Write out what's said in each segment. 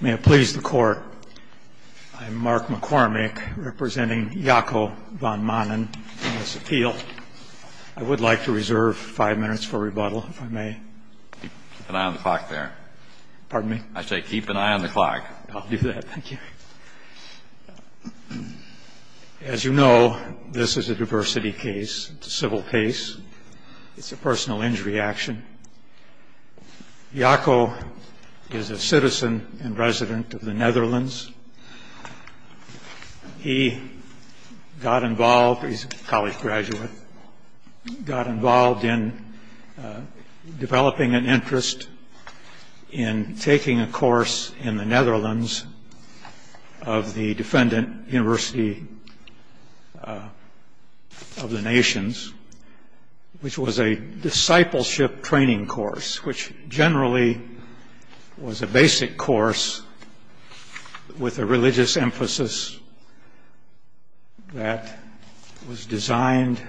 May it please the Court, I'm Mark McCormick, representing Jaco Van Maanen in this appeal. I would like to reserve five minutes for rebuttal, if I may. Keep an eye on the clock there. Pardon me? I say keep an eye on the clock. I'll do that, thank you. As you know, this is a diversity case. It's a civil case. It's a personal injury action. Jaco is a citizen and resident of the Netherlands. He got involved, he's a college graduate, got involved in developing an interest in taking a course in the Netherlands of the defendant, University of the Nations, which was a discipleship training course, which generally was a basic course with a religious emphasis that was designed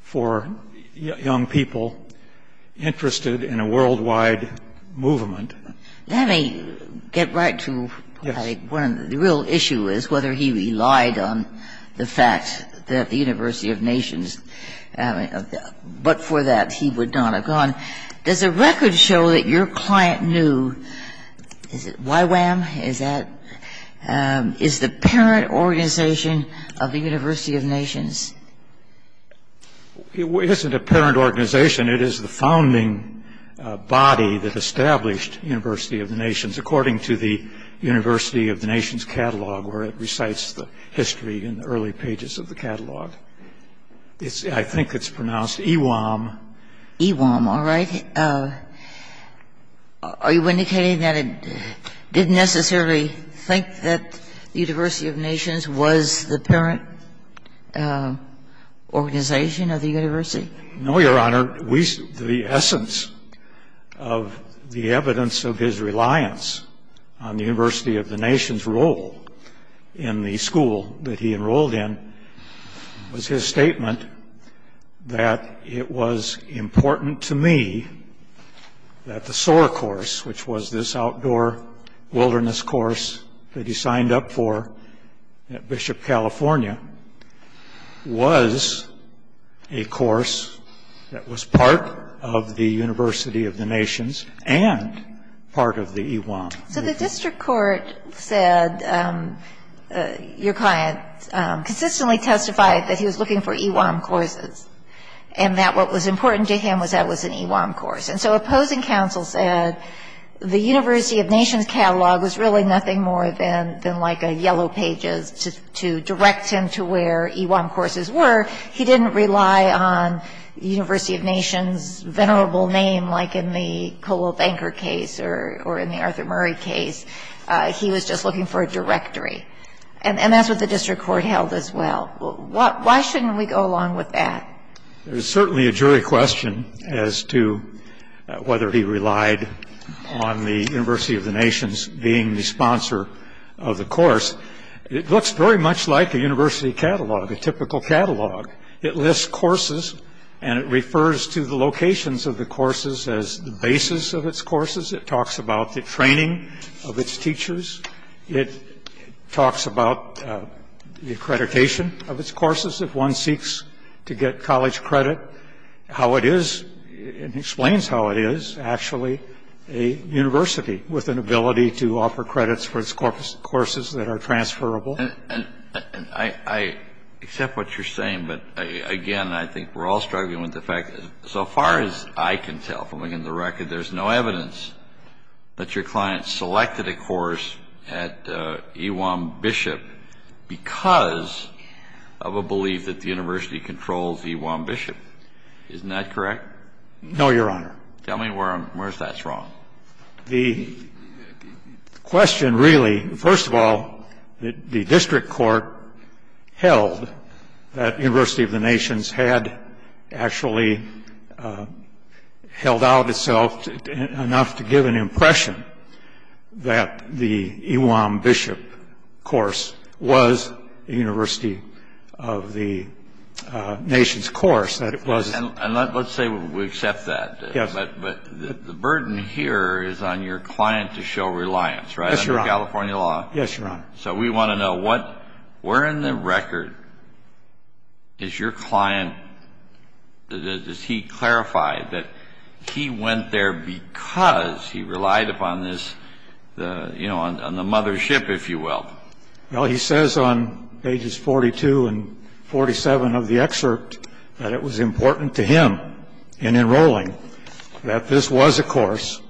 for young people interested in a worldwide movement. Let me get right to the real issue is whether he relied on the fact that the University of Nations, but for that he would not have gone. Does the record show that your client knew, is it YWAM, is that, is the parent organization of the University of Nations? It isn't a parent organization. It is the founding body that established University of the Nations, according to the University of the Nations catalog, where it recites the history in the early pages of the catalog. I think it's pronounced E-WAM. E-WAM, all right. Are you indicating that it didn't necessarily think that the University of Nations was the parent organization of the university? No, Your Honor. The essence of the evidence of his reliance on the University of the Nations role in the school that he enrolled in was his statement that it was important to me that the SOAR course, which was this outdoor wilderness course that he signed up for at Bishop California, was a course that was part of the University of the Nations and part of the E-WAM. So the district court said your client consistently testified that he was looking for E-WAM courses and that what was important to him was that it was an E-WAM course. And so opposing counsel said the University of Nations catalog was really nothing more than like a Yellow Pages to direct him to where E-WAM courses were. He didn't rely on the University of Nations' venerable name like in the Colwell Banker case or in the Arthur Murray case. He was just looking for a directory. And that's what the district court held as well. Why shouldn't we go along with that? There's certainly a jury question as to whether he relied on the University of the Nations being the sponsor of the course. It looks very much like a university catalog, a typical catalog. It lists courses, and it refers to the locations of the courses as the basis of its courses. It talks about the training of its teachers. It talks about the accreditation of its courses. If one seeks to get college credit, how it is, it explains how it is actually a university with an ability to offer credits for its courses that are transferable. And I accept what you're saying, but, again, I think we're all struggling with the fact that so far as I can tell from looking at the record, there's no evidence that your client selected a course at E-WAM Bishop because of a belief that the university controls E-WAM Bishop. Isn't that correct? No, Your Honor. Tell me where that's wrong. The question really, first of all, the district court held that University of the Nations had actually held out itself enough to give an impression that the E-WAM Bishop course was a University of the Nations course, that it was. And let's say we accept that. Yes. But the burden here is on your client to show reliance, right? Yes, Your Honor. Under California law. Yes, Your Honor. So we want to know where in the record is your client, does he clarify that he went there because he relied upon this, you know, on the mothership, if you will? Well, he says on pages 42 and 47 of the excerpt that it was important to him in enrolling that this was a course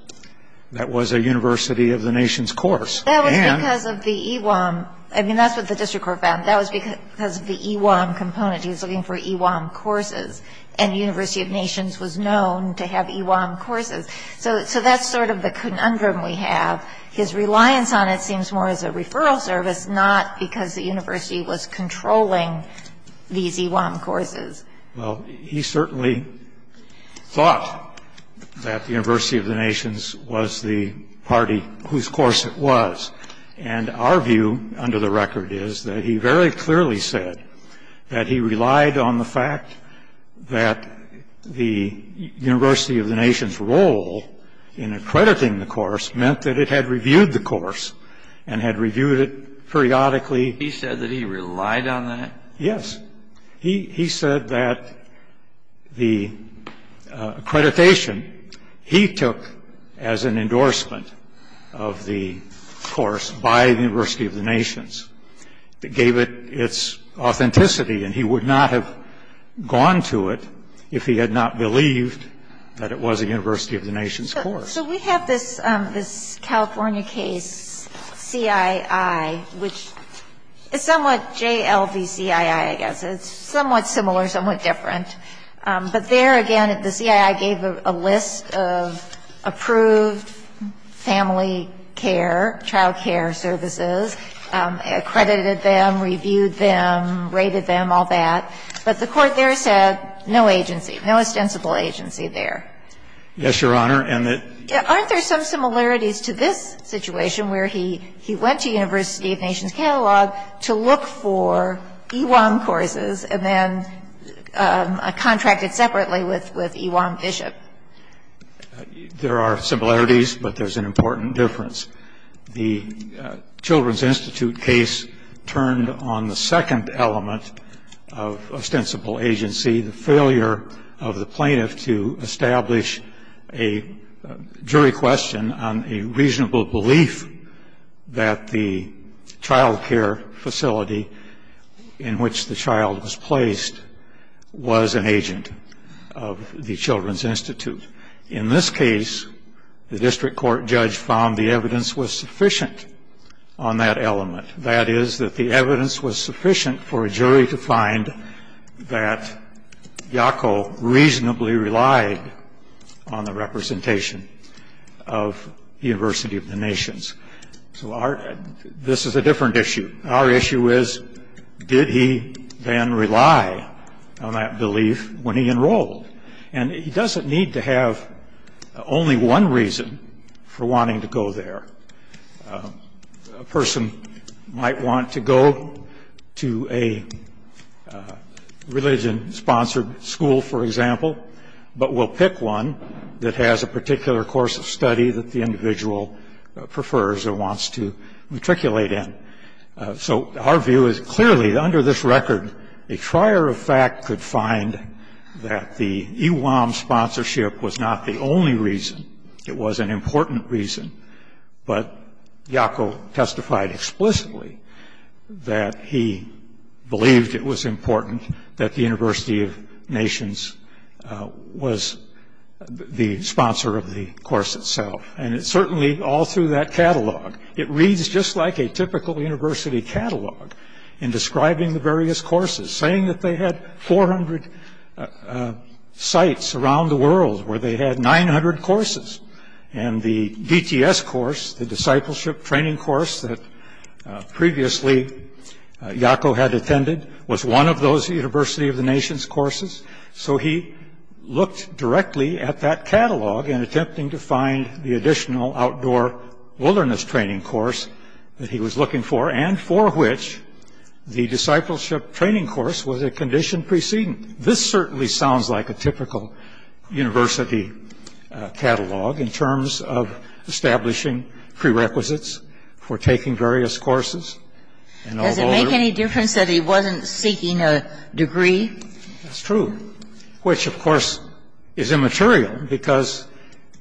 that was a University of the Nations course. That was because of the E-WAM. I mean, that's what the district court found. That was because of the E-WAM component. He was looking for E-WAM courses, and the University of Nations was known to have E-WAM courses. So that's sort of the conundrum we have. His reliance on it seems more as a referral service, not because the university was controlling these E-WAM courses. Well, he certainly thought that the University of the Nations was the party whose course it was. And our view under the record is that he very clearly said that he relied on the fact that the University of the Nations' role in accrediting the course meant that it had reviewed the course and had reviewed it periodically. He said that he relied on that? Yes. He said that the accreditation he took as an endorsement of the course by the University of the Nations gave it its authenticity, and he would not have gone to it if he had not believed that it was a University of the Nations course. So we have this California case, CII, which is somewhat JLVCII, I guess. It's somewhat similar, somewhat different. But there, again, the CII gave a list of approved family care, child care services, accredited them, reviewed them, rated them, all that. But the Court there said no agency, no ostensible agency there. Yes, Your Honor. And the ---- Aren't there some similarities to this situation where he went to University of Nations Catalog to look for E-WAM courses and then contracted separately with E-WAM Bishop? There are similarities, but there's an important difference. The Children's Institute case turned on the second element of ostensible agency, the failure of the plaintiff to establish a jury question on a reasonable belief that the child care facility in which the child was placed was an agent of the Children's Institute. In this case, the district court judge found the evidence was sufficient on that element. That is, that the evidence was sufficient for a jury to find that Yacko reasonably relied on the representation of the University of the Nations. So this is a different issue. Our issue is, did he then rely on that belief when he enrolled? And he doesn't need to have only one reason for wanting to go there. A person might want to go to a religion-sponsored school, for example, but will pick one that has a particular course of study that the individual prefers or wants to matriculate in. So our view is, clearly, under this record, a trier of fact could find that the E-WAM sponsorship was not the only reason. It was an important reason. But Yacko testified explicitly that he believed it was important that the University of Nations was the sponsor of the course itself. And it's certainly all through that catalog. It reads just like a typical university catalog in describing the various courses, saying that they had 400 sites around the world where they had 900 courses. And the DTS course, the discipleship training course that previously Yacko had attended, was one of those University of the Nations courses. So he looked directly at that catalog in attempting to find the additional outdoor wilderness training course that he was looking for, and for which the discipleship training course was a condition precedent. This certainly sounds like a typical university catalog in terms of establishing prerequisites for taking various courses. Does it make any difference that he wasn't seeking a degree? That's true. Which, of course, is immaterial, because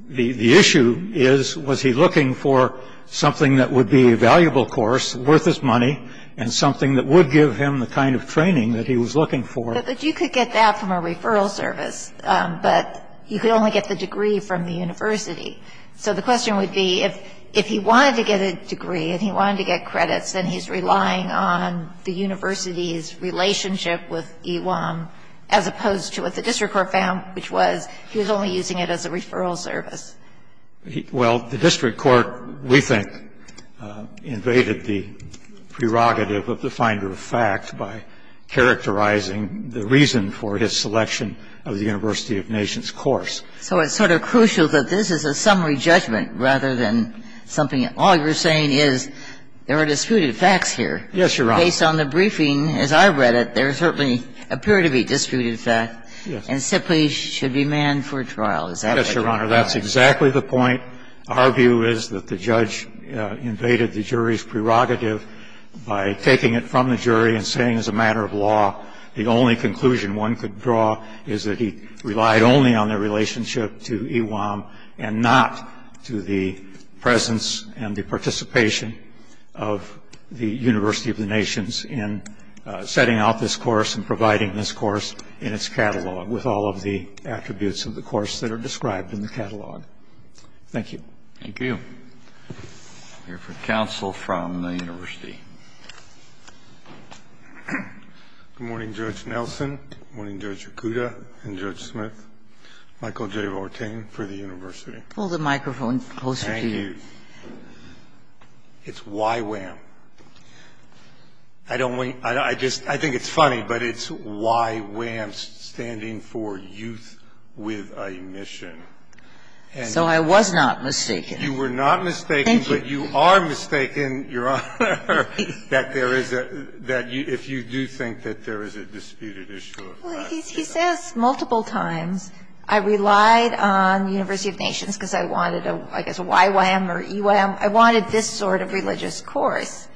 the issue is, was he looking for something that would be a valuable course worth his money and something that would give him the kind of training that he was looking for? But you could get that from a referral service. But you could only get the degree from the university. So the question would be, if he wanted to get a degree and he wanted to get credits, then he's relying on the university's relationship with EWAM as opposed to what the district court found, which was he was only using it as a referral service. Well, the district court, we think, invaded the prerogative of the finder of fact by characterizing the reason for his selection of the University of Nations course. So it's sort of crucial that this is a summary judgment rather than something And that's what we're saying. All you're saying is there are disputed facts here. Yes, Your Honor. Based on the briefing, as I read it, there certainly appear to be disputed facts and simply should be manned for trial. Is that what you're saying? Yes, Your Honor. That's exactly the point. Our view is that the judge invaded the jury's prerogative by taking it from the jury and saying as a matter of law the only conclusion one could draw is that he relied only on the relationship to EWAM and not to the presence and the participation of the University of the Nations in setting out this course and providing this course in its catalog with all of the attributes of the course that are described in the catalog. Thank you. Thank you. We'll hear from counsel from the university. Good morning, Judge Nelson. Good morning, Judge Yakuta and Judge Smith. Michael J. Vortain for the university. Pull the microphone closer to you. Thank you. It's YWAM. I don't want to – I just – I think it's funny, but it's YWAM standing for Youth with a Mission. So I was not mistaken. You were not mistaken. Thank you. But you are mistaken, Your Honor, that there is a – that if you do think that there is a disputed issue. Well, he says multiple times I relied on University of Nations because I wanted a – I guess a YWAM or EWAM. I wanted this sort of religious course.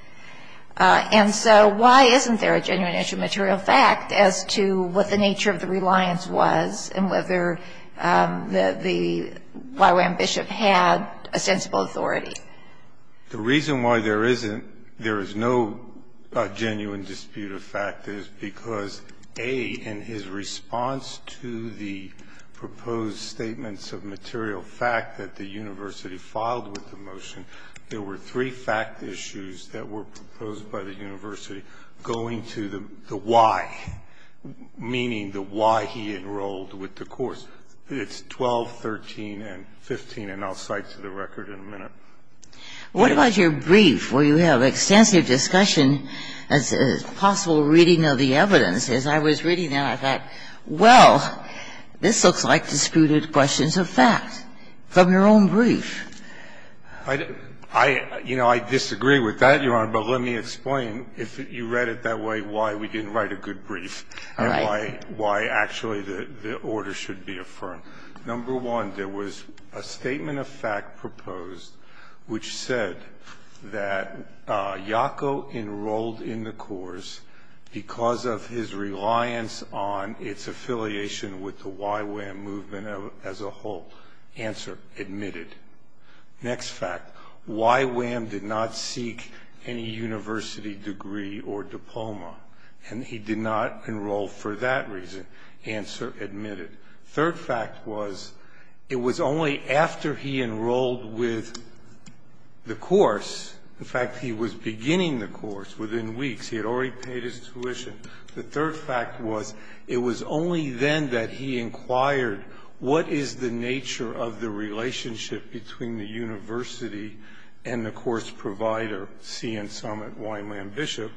And so why isn't there a genuine intramaterial fact as to what the nature of the reliance was and whether the YWAM bishop had a sensible authority? The reason why there isn't – there is no genuine dispute of fact is because, A, in his response to the proposed statements of material fact that the university filed with the motion, there were three fact issues that were proposed by the university going to the why, meaning the why he enrolled with the course. It's 12, 13, and 15, and I'll cite to the record in a minute. What about your brief where you have extensive discussion as possible reading of the evidence? As I was reading that, I thought, well, this looks like disputed questions of fact from your own brief. I – you know, I disagree with that, Your Honor, but let me explain. If you read it that way, why we didn't write a good brief and why actually the order should be affirmed. Number one, there was a statement of fact proposed which said that Iaco enrolled in the course because of his reliance on its affiliation with the YWAM movement as a whole. Answer, admitted. Next fact, YWAM did not seek any university degree or diploma, and he did not enroll for that reason. Answer, admitted. Third fact was it was only after he enrolled with the course – in fact, he was beginning the course within weeks. He had already paid his tuition. The third fact was it was only then that he inquired what is the nature of the relationship between the university and the course provider, CN Summit, Wineland Bishop.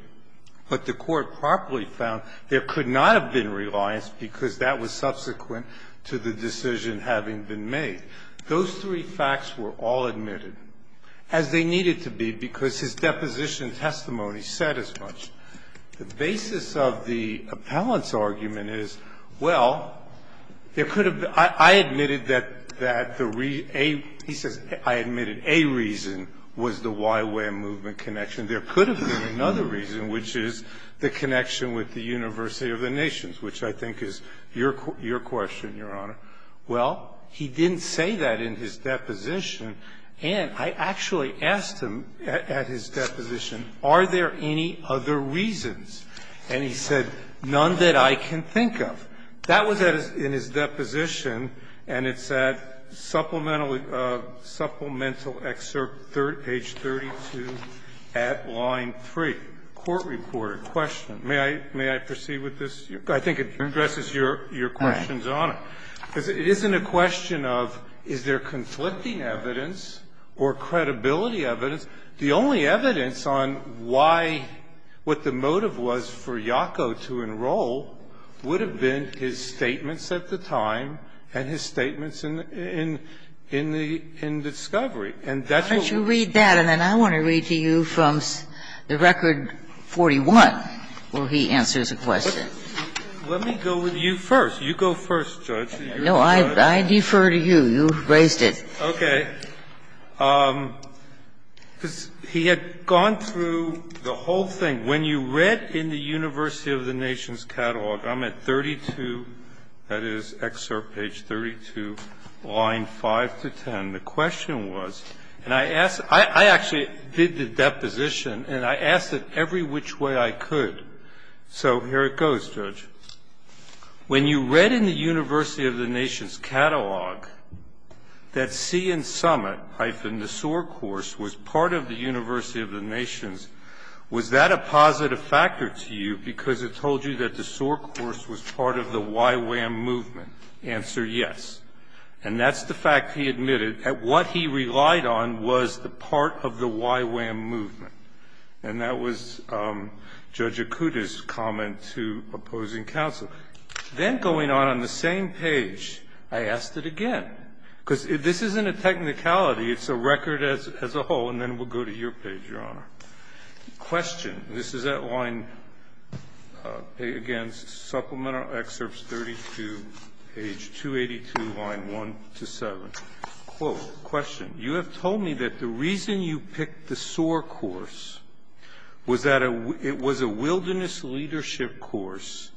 But the Court properly found there could not have been reliance because that was subsequent to the decision having been made. Those three facts were all admitted, as they needed to be, because his deposition testimony said as much. The basis of the appellant's argument is, well, there could have been – I admitted that the reason – he says, I admitted a reason was the YWAM movement connection. There could have been another reason, which is the connection with the University of the Nations, which I think is your question, Your Honor. Well, he didn't say that in his deposition, and I actually asked him at his deposition, are there any other reasons, and he said, none that I can think of. That was in his deposition, and it's at Supplemental Excerpt, page 32, at line 3. Court-reported question. May I proceed with this? I think it addresses your questions, Your Honor. It isn't a question of is there conflicting evidence or credibility evidence. The only evidence on why – what the motive was for YACO to enroll would have been his statements at the time and his statements in the – in Discovery. And that's what we're looking for. Why don't you read that, and then I want to read to you from the Record 41, where he answers a question. Let me go with you first. You go first, Judge. No, I defer to you. You raised it. Okay. He had gone through the whole thing. When you read in the University of the Nations Catalog, I'm at 32, that is, Excerpt, page 32, line 5 to 10. The question was, and I asked – I actually did the deposition, and I asked it every which way I could. So here it goes, Judge. When you read in the University of the Nations Catalog that Sea and Summit, hyphen, the SOAR course was part of the University of the Nations, was that a positive factor to you because it told you that the SOAR course was part of the YWAM movement? Answer, yes. And that's the fact he admitted that what he relied on was the part of the YWAM movement. And that was Judge Akuta's comment to opposing counsel. Then going on on the same page, I asked it again, because this isn't a technicality. It's a record as a whole. And then we'll go to your page, Your Honor. Question. This is at line, again, Supplemental Excerpt 32, page 282, line 1 to 7. Quote, question. You have told me that the reason you picked the SOAR course was that it was a wilderness leadership course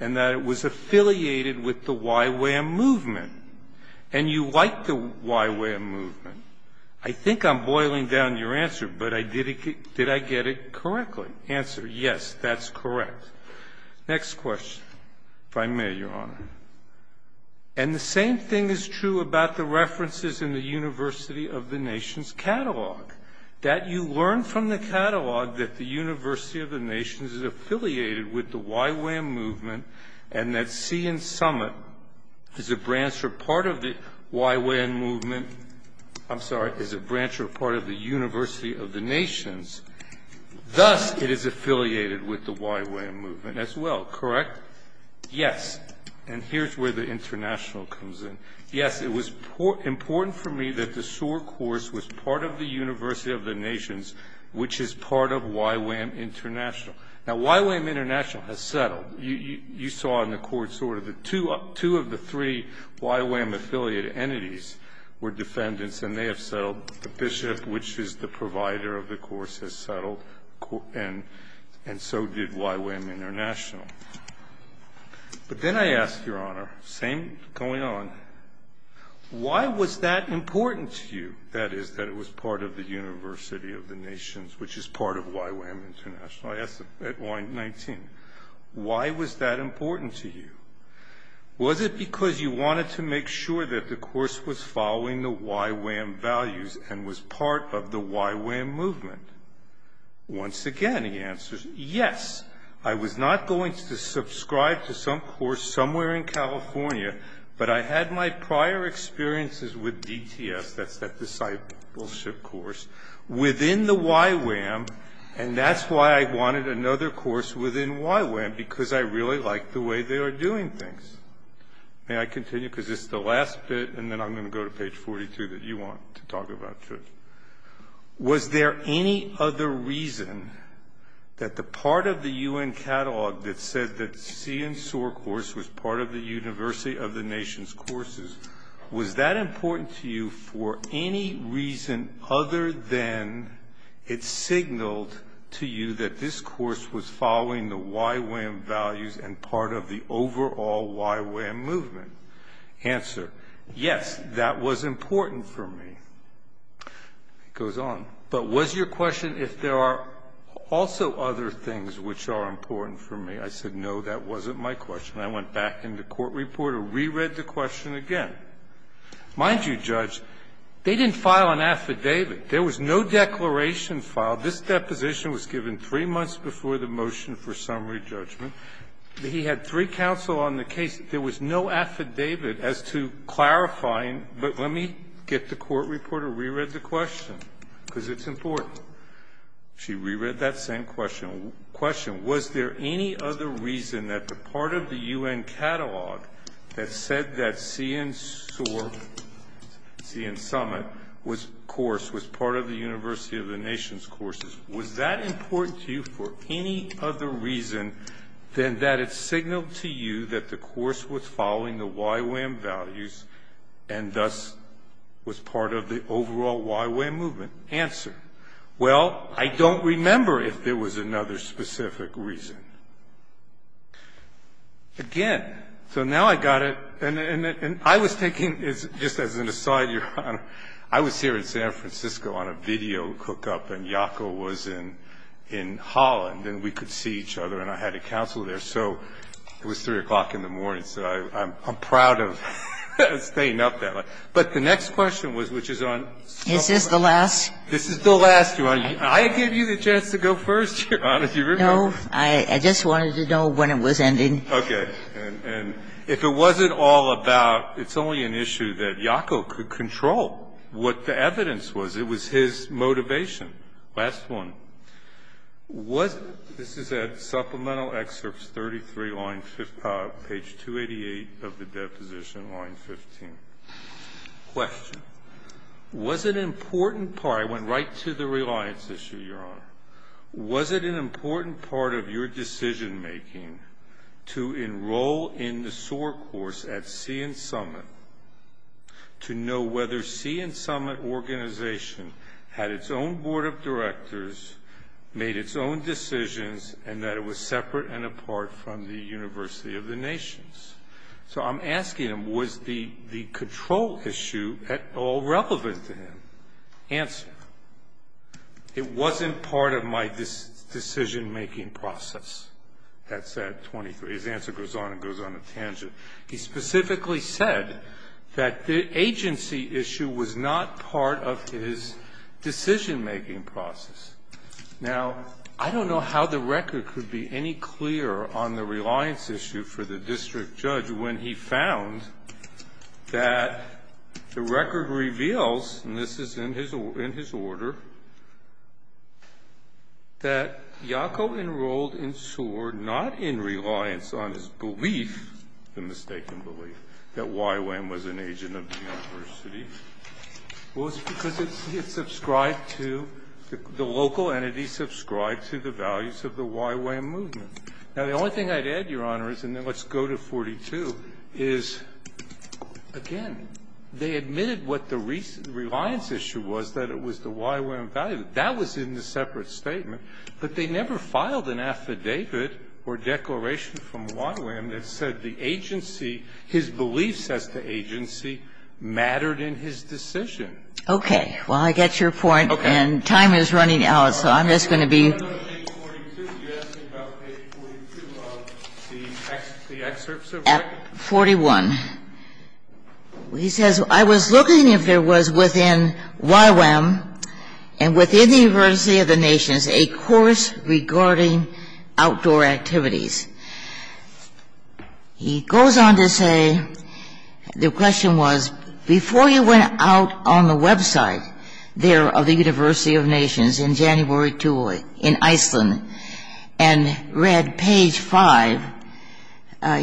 and that it was affiliated with the YWAM movement. And you like the YWAM movement. I think I'm boiling down your answer, but did I get it correctly? Answer, yes, that's correct. Next question, if I may, Your Honor. And the same thing is true about the references in the University of the Nations catalog. That you learned from the catalog that the University of the Nations is affiliated with the YWAM movement and that Sea and Summit is a branch or part of the YWAM movement. I'm sorry, is a branch or part of the University of the Nations. Thus, it is affiliated with the YWAM movement as well, correct? Yes. And here's where the international comes in. Yes, it was important for me that the SOAR course was part of the University of the Nations, which is part of YWAM International. Now, YWAM International has settled. You saw in the court, sort of the two of the three YWAM affiliated entities were defendants and they have settled. The bishop, which is the provider of the course, has settled and so did YWAM International. But then I ask, Your Honor, same going on, why was that important to you? That is, that it was part of the University of the Nations, which is part of YWAM International. I asked at Y19, why was that important to you? Was it because you wanted to make sure that the course was following the YWAM values and was part of the YWAM movement? Once again, he answers, yes, I was not going to subscribe to some course somewhere in California, but I had my prior experiences with DTS, that's that discipleship course, within the YWAM, and that's why I wanted another course within YWAM, because I really like the way they are doing things. May I continue? Because this is the last bit and then I'm going to go to page 42 that you want to talk about, Judge. Was there any other reason that the part of the UN Catalog that said that CNSOAR course was part of the University of the Nations courses, was that important to you for any reason other than it signaled to you that this course was following the YWAM values and part of the overall YWAM movement? Answer, yes, that was important for me. It goes on. But was your question if there are also other things which are important for me? I said, no, that wasn't my question. I went back in the court report and reread the question again. Mind you, Judge, they didn't file an affidavit. There was no declaration filed. This deposition was given three months before the motion for summary judgment. He had three counsel on the case. There was no affidavit as to clarifying. But let me get the court report and reread the question because it's important. She reread that same question. Was there any other reason that the part of the UN Catalog that said that CNSOAR, CN Summit course was part of the University of the Nations courses, was that important to you for any other reason than that it signaled to you that the course was following the YWAM values and thus was part of the overall YWAM movement? Answer, well, I don't remember if there was another specific reason. Again, so now I got it. And I was thinking, just as an aside, Your Honor, I was here in San Francisco on a video hookup and Jaco was in Holland and we could see each other and I had a counsel there. So it was 3 o'clock in the morning. So I'm proud of staying up that late. But the next question was, which is on summary. Is this the last? This is the last, Your Honor. I gave you the chance to go first, Your Honor. Do you remember? No. I just wanted to know when it was ending. Okay. And if it wasn't all about, it's only an issue that Jaco could control what the evidence was. It was his motivation. Last one. This is at Supplemental Excerpt 33, page 288 of the deposition, line 15. Question. Was it an important part, I went right to the reliance issue, Your Honor. Was it an important part of your decision making to enroll in the SOAR course at Sea and Summit to know whether Sea and Summit organization had its own board of directors, made its own decisions, and that it was separate and apart from the University of the Nations? So I'm asking him, was the control issue at all relevant to him? Answer. It wasn't part of my decision making process. That's at 23. His answer goes on and goes on a tangent. He specifically said that the agency issue was not part of his decision making process. Now, I don't know how the record could be any clearer on the reliance issue for the district judge when he found that the record reveals, and this is in his order, that YACO enrolled in SOAR not in reliance on his belief, the mistaken belief, that YWAM was an agent of the university. Well, it's because it's subscribed to, the local entity subscribed to the values of the YWAM movement. Now, the only thing I'd add, Your Honor, is, and then let's go to 42, is, again, they admitted what the reliance issue was, that it was the YWAM value. That was in the separate statement, but they never filed an affidavit or declaration from YWAM that said the agency, his beliefs as the agency, mattered in his decision. Okay. Well, I get your point, and time is running out, so I'm just going to be. Let's go to page 42. You asked me about page 42 of the excerpts, correct? At 41. He says, I was looking if there was within YWAM and within the University of the Nations a course regarding outdoor activities. He goes on to say, the question was, before you went out on the website there of the University of Nations in January 2 in Iceland and read page 5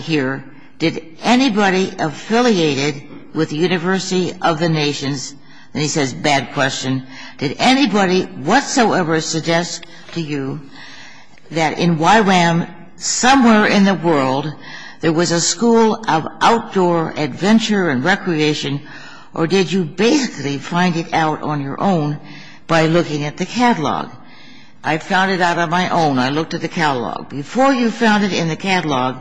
here, did anybody affiliated with the University of the Nations, and he says, bad question, did anybody whatsoever suggest to you that in YWAM somewhere in the world there was a school of outdoor adventure and recreation, or did you basically find it out on your own by looking at the catalog? I found it out on my own. I looked at the catalog. Before you found it in the catalog,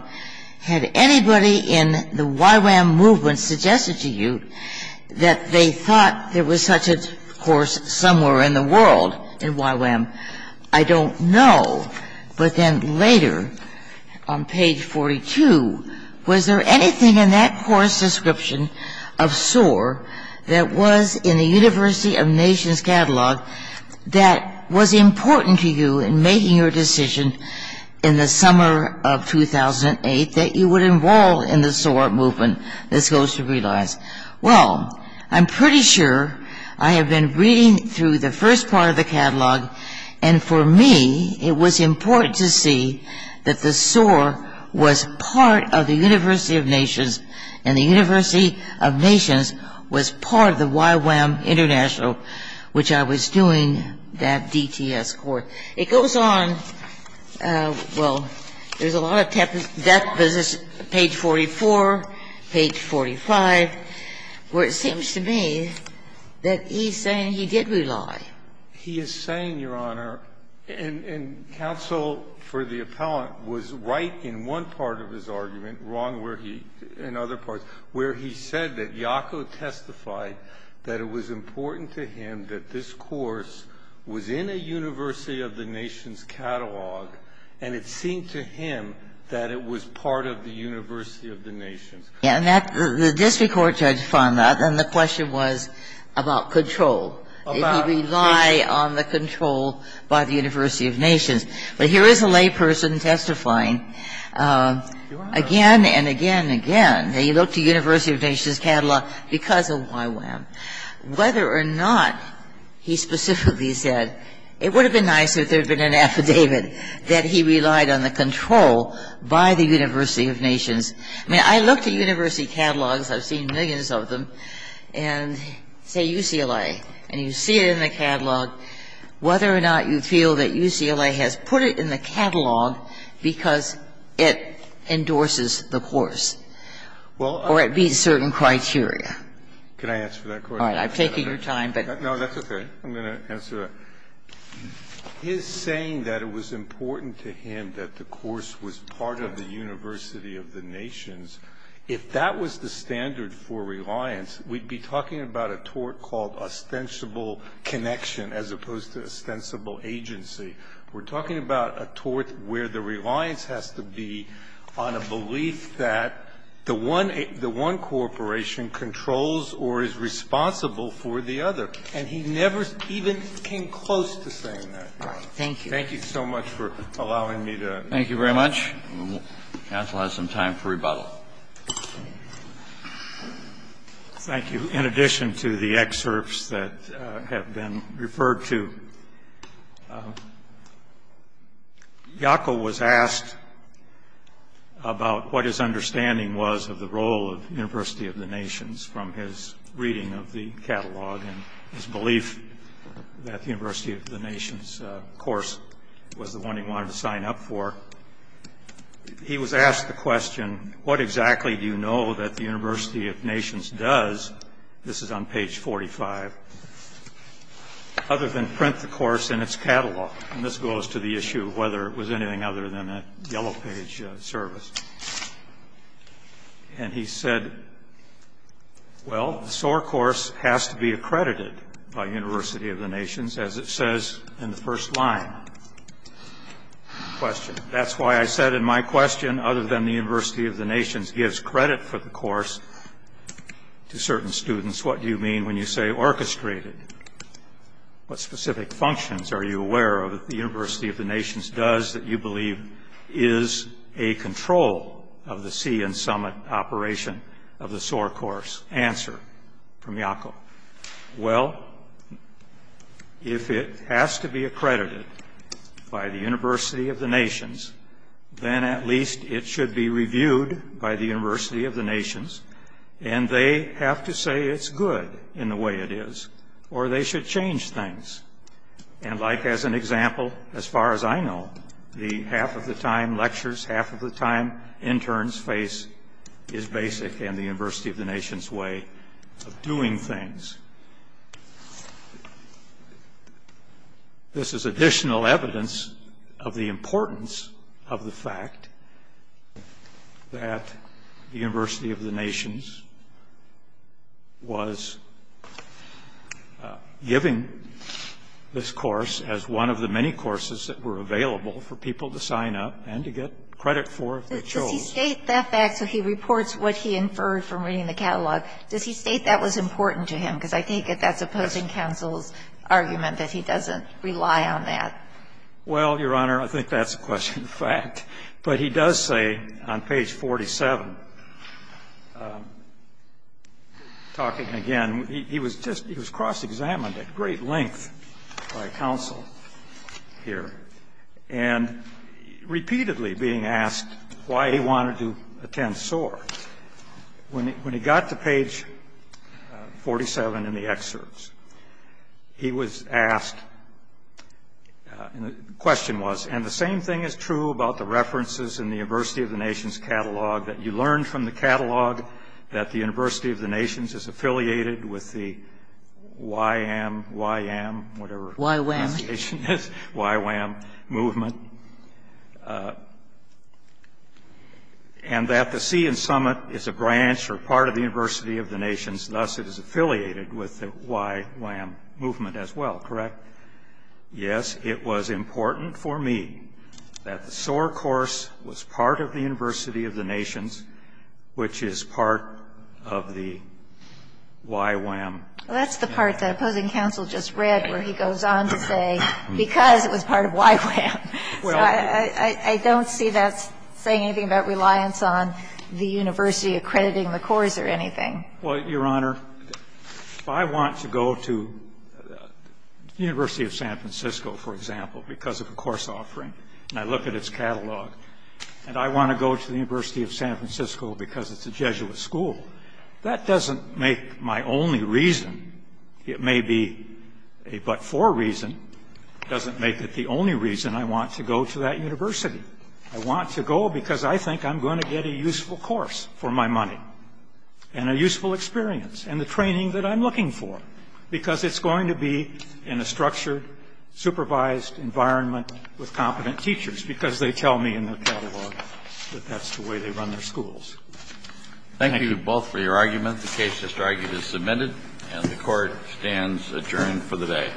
had anybody in the YWAM movement suggested to you that they thought there was such a course somewhere in the world in YWAM? I don't know, but then later on page 42, was there anything in that course description of SOAR that was in the University of Nations catalog that was important to you in making your decision in the summer of 2008 that you would involve in the SOAR movement, this goes to realize? Well, I'm pretty sure I have been reading through the first part of the catalog, and for me it was important to see that the SOAR was part of the University of Nations and the University of Nations was part of the YWAM International, which I was doing that DTS course. It goes on, well, there's a lot of death visits, page 44, page 45, where it seems to me that he's saying he did rely. He is saying, Your Honor, and counsel for the appellant was right in one part of his argument, wrong in other parts, where he said that Yako testified that it was important to him that this course was in a University of the Nations catalog, and it seemed to him that it was part of the University of the Nations. Yeah, and the district court judge found that, and the question was about control. Did he rely on the control by the University of Nations? But here is a layperson testifying again and again and again. He looked at University of Nations catalog because of YWAM. Whether or not he specifically said it would have been nicer if there had been an affidavit that he relied on the control by the University of Nations. I mean, I looked at University catalogs. I've seen millions of them, and say UCLA, and you see it in the catalog whether or not you feel that UCLA has put it in the catalog because it endorses the course or it meets certain criteria. Can I answer that question? All right. I'm taking your time, but. No, that's okay. I'm going to answer that. His saying that it was important to him that the course was part of the University of the Nations, if that was the standard for reliance, we'd be talking about a tort called ostensible connection as opposed to ostensible agency. We're talking about a tort where the reliance has to be on a belief that the one corporation controls or is responsible for the other. And he never even came close to saying that. Thank you. Thank you so much for allowing me to. Thank you very much. Counsel has some time for rebuttal. Thank you. In addition to the excerpts that have been referred to, Jaco was asked about what his understanding was of the role of University of the Nations from his reading of the catalog and his belief that the University of the Nations course was the one he wanted to sign up for. He was asked the question, what exactly do you know that the University of Nations does, this is on page 45, other than print the course in its catalog? And this goes to the issue of whether it was anything other than a yellow page service. And he said, well, the SOAR course has to be accredited by University of the Nations as it says in the first line. Question. That's why I said in my question, other than the University of the Nations gives credit for the course to certain students, what do you mean when you say orchestrated? What specific functions are you aware of that the University of the Nations does that you believe is a control of the sea and summit operation of the SOAR course? Answer from Jaco. Well, if it has to be accredited by the University of the Nations, then at least it should be reviewed by the University of the Nations. And they have to say it's good in the way it is, or they should change things. And like as an example, as far as I know, the half of the time lectures, half of the time interns face is basic in the University of the Nations way of doing things. This is additional evidence of the importance of the fact that the University of the Nations was giving this course as one of the many courses that were available for people to Does he state that fact so he reports what he inferred from reading the catalog? Does he state that was important to him? Because I think that that's opposing counsel's argument that he doesn't rely on that. Well, Your Honor, I think that's a question of fact. But he does say on page 47, talking again, he was just he was cross-examined at great length by counsel here. And repeatedly being asked why he wanted to attend SOAR. When he got to page 47 in the excerpts, he was asked, the question was, and the same thing is true about the references in the University of the Nations catalog that you learned from the catalog that the University of the Nations is affiliated with the YWAM movement and that the Sea and Summit is a branch or part of the University of the Nations, thus it is affiliated with the YWAM movement as well, correct? Yes, it was important for me that the SOAR course was part of the University of the Nations, which is part of the YWAM. Well, that's the part that opposing counsel just read where he goes on to say because it was part of YWAM. So I don't see that saying anything about reliance on the university accrediting the course or anything. Well, Your Honor, if I want to go to the University of San Francisco, for example, because of a course offering, and I look at its catalog, and I want to go to the University of San Francisco because it's a Jesuit school, that doesn't make my only reason, it may be a but-for reason, doesn't make it the only reason I want to go to that university. I want to go because I think I'm going to get a useful course for my money and a useful experience and the training that I'm looking for because it's going to be in a structured, supervised environment with competent teachers because they tell me in their catalog that that's the way they run their schools. Thank you both for your argument. The case is submitted and the Court stands adjourned for the day.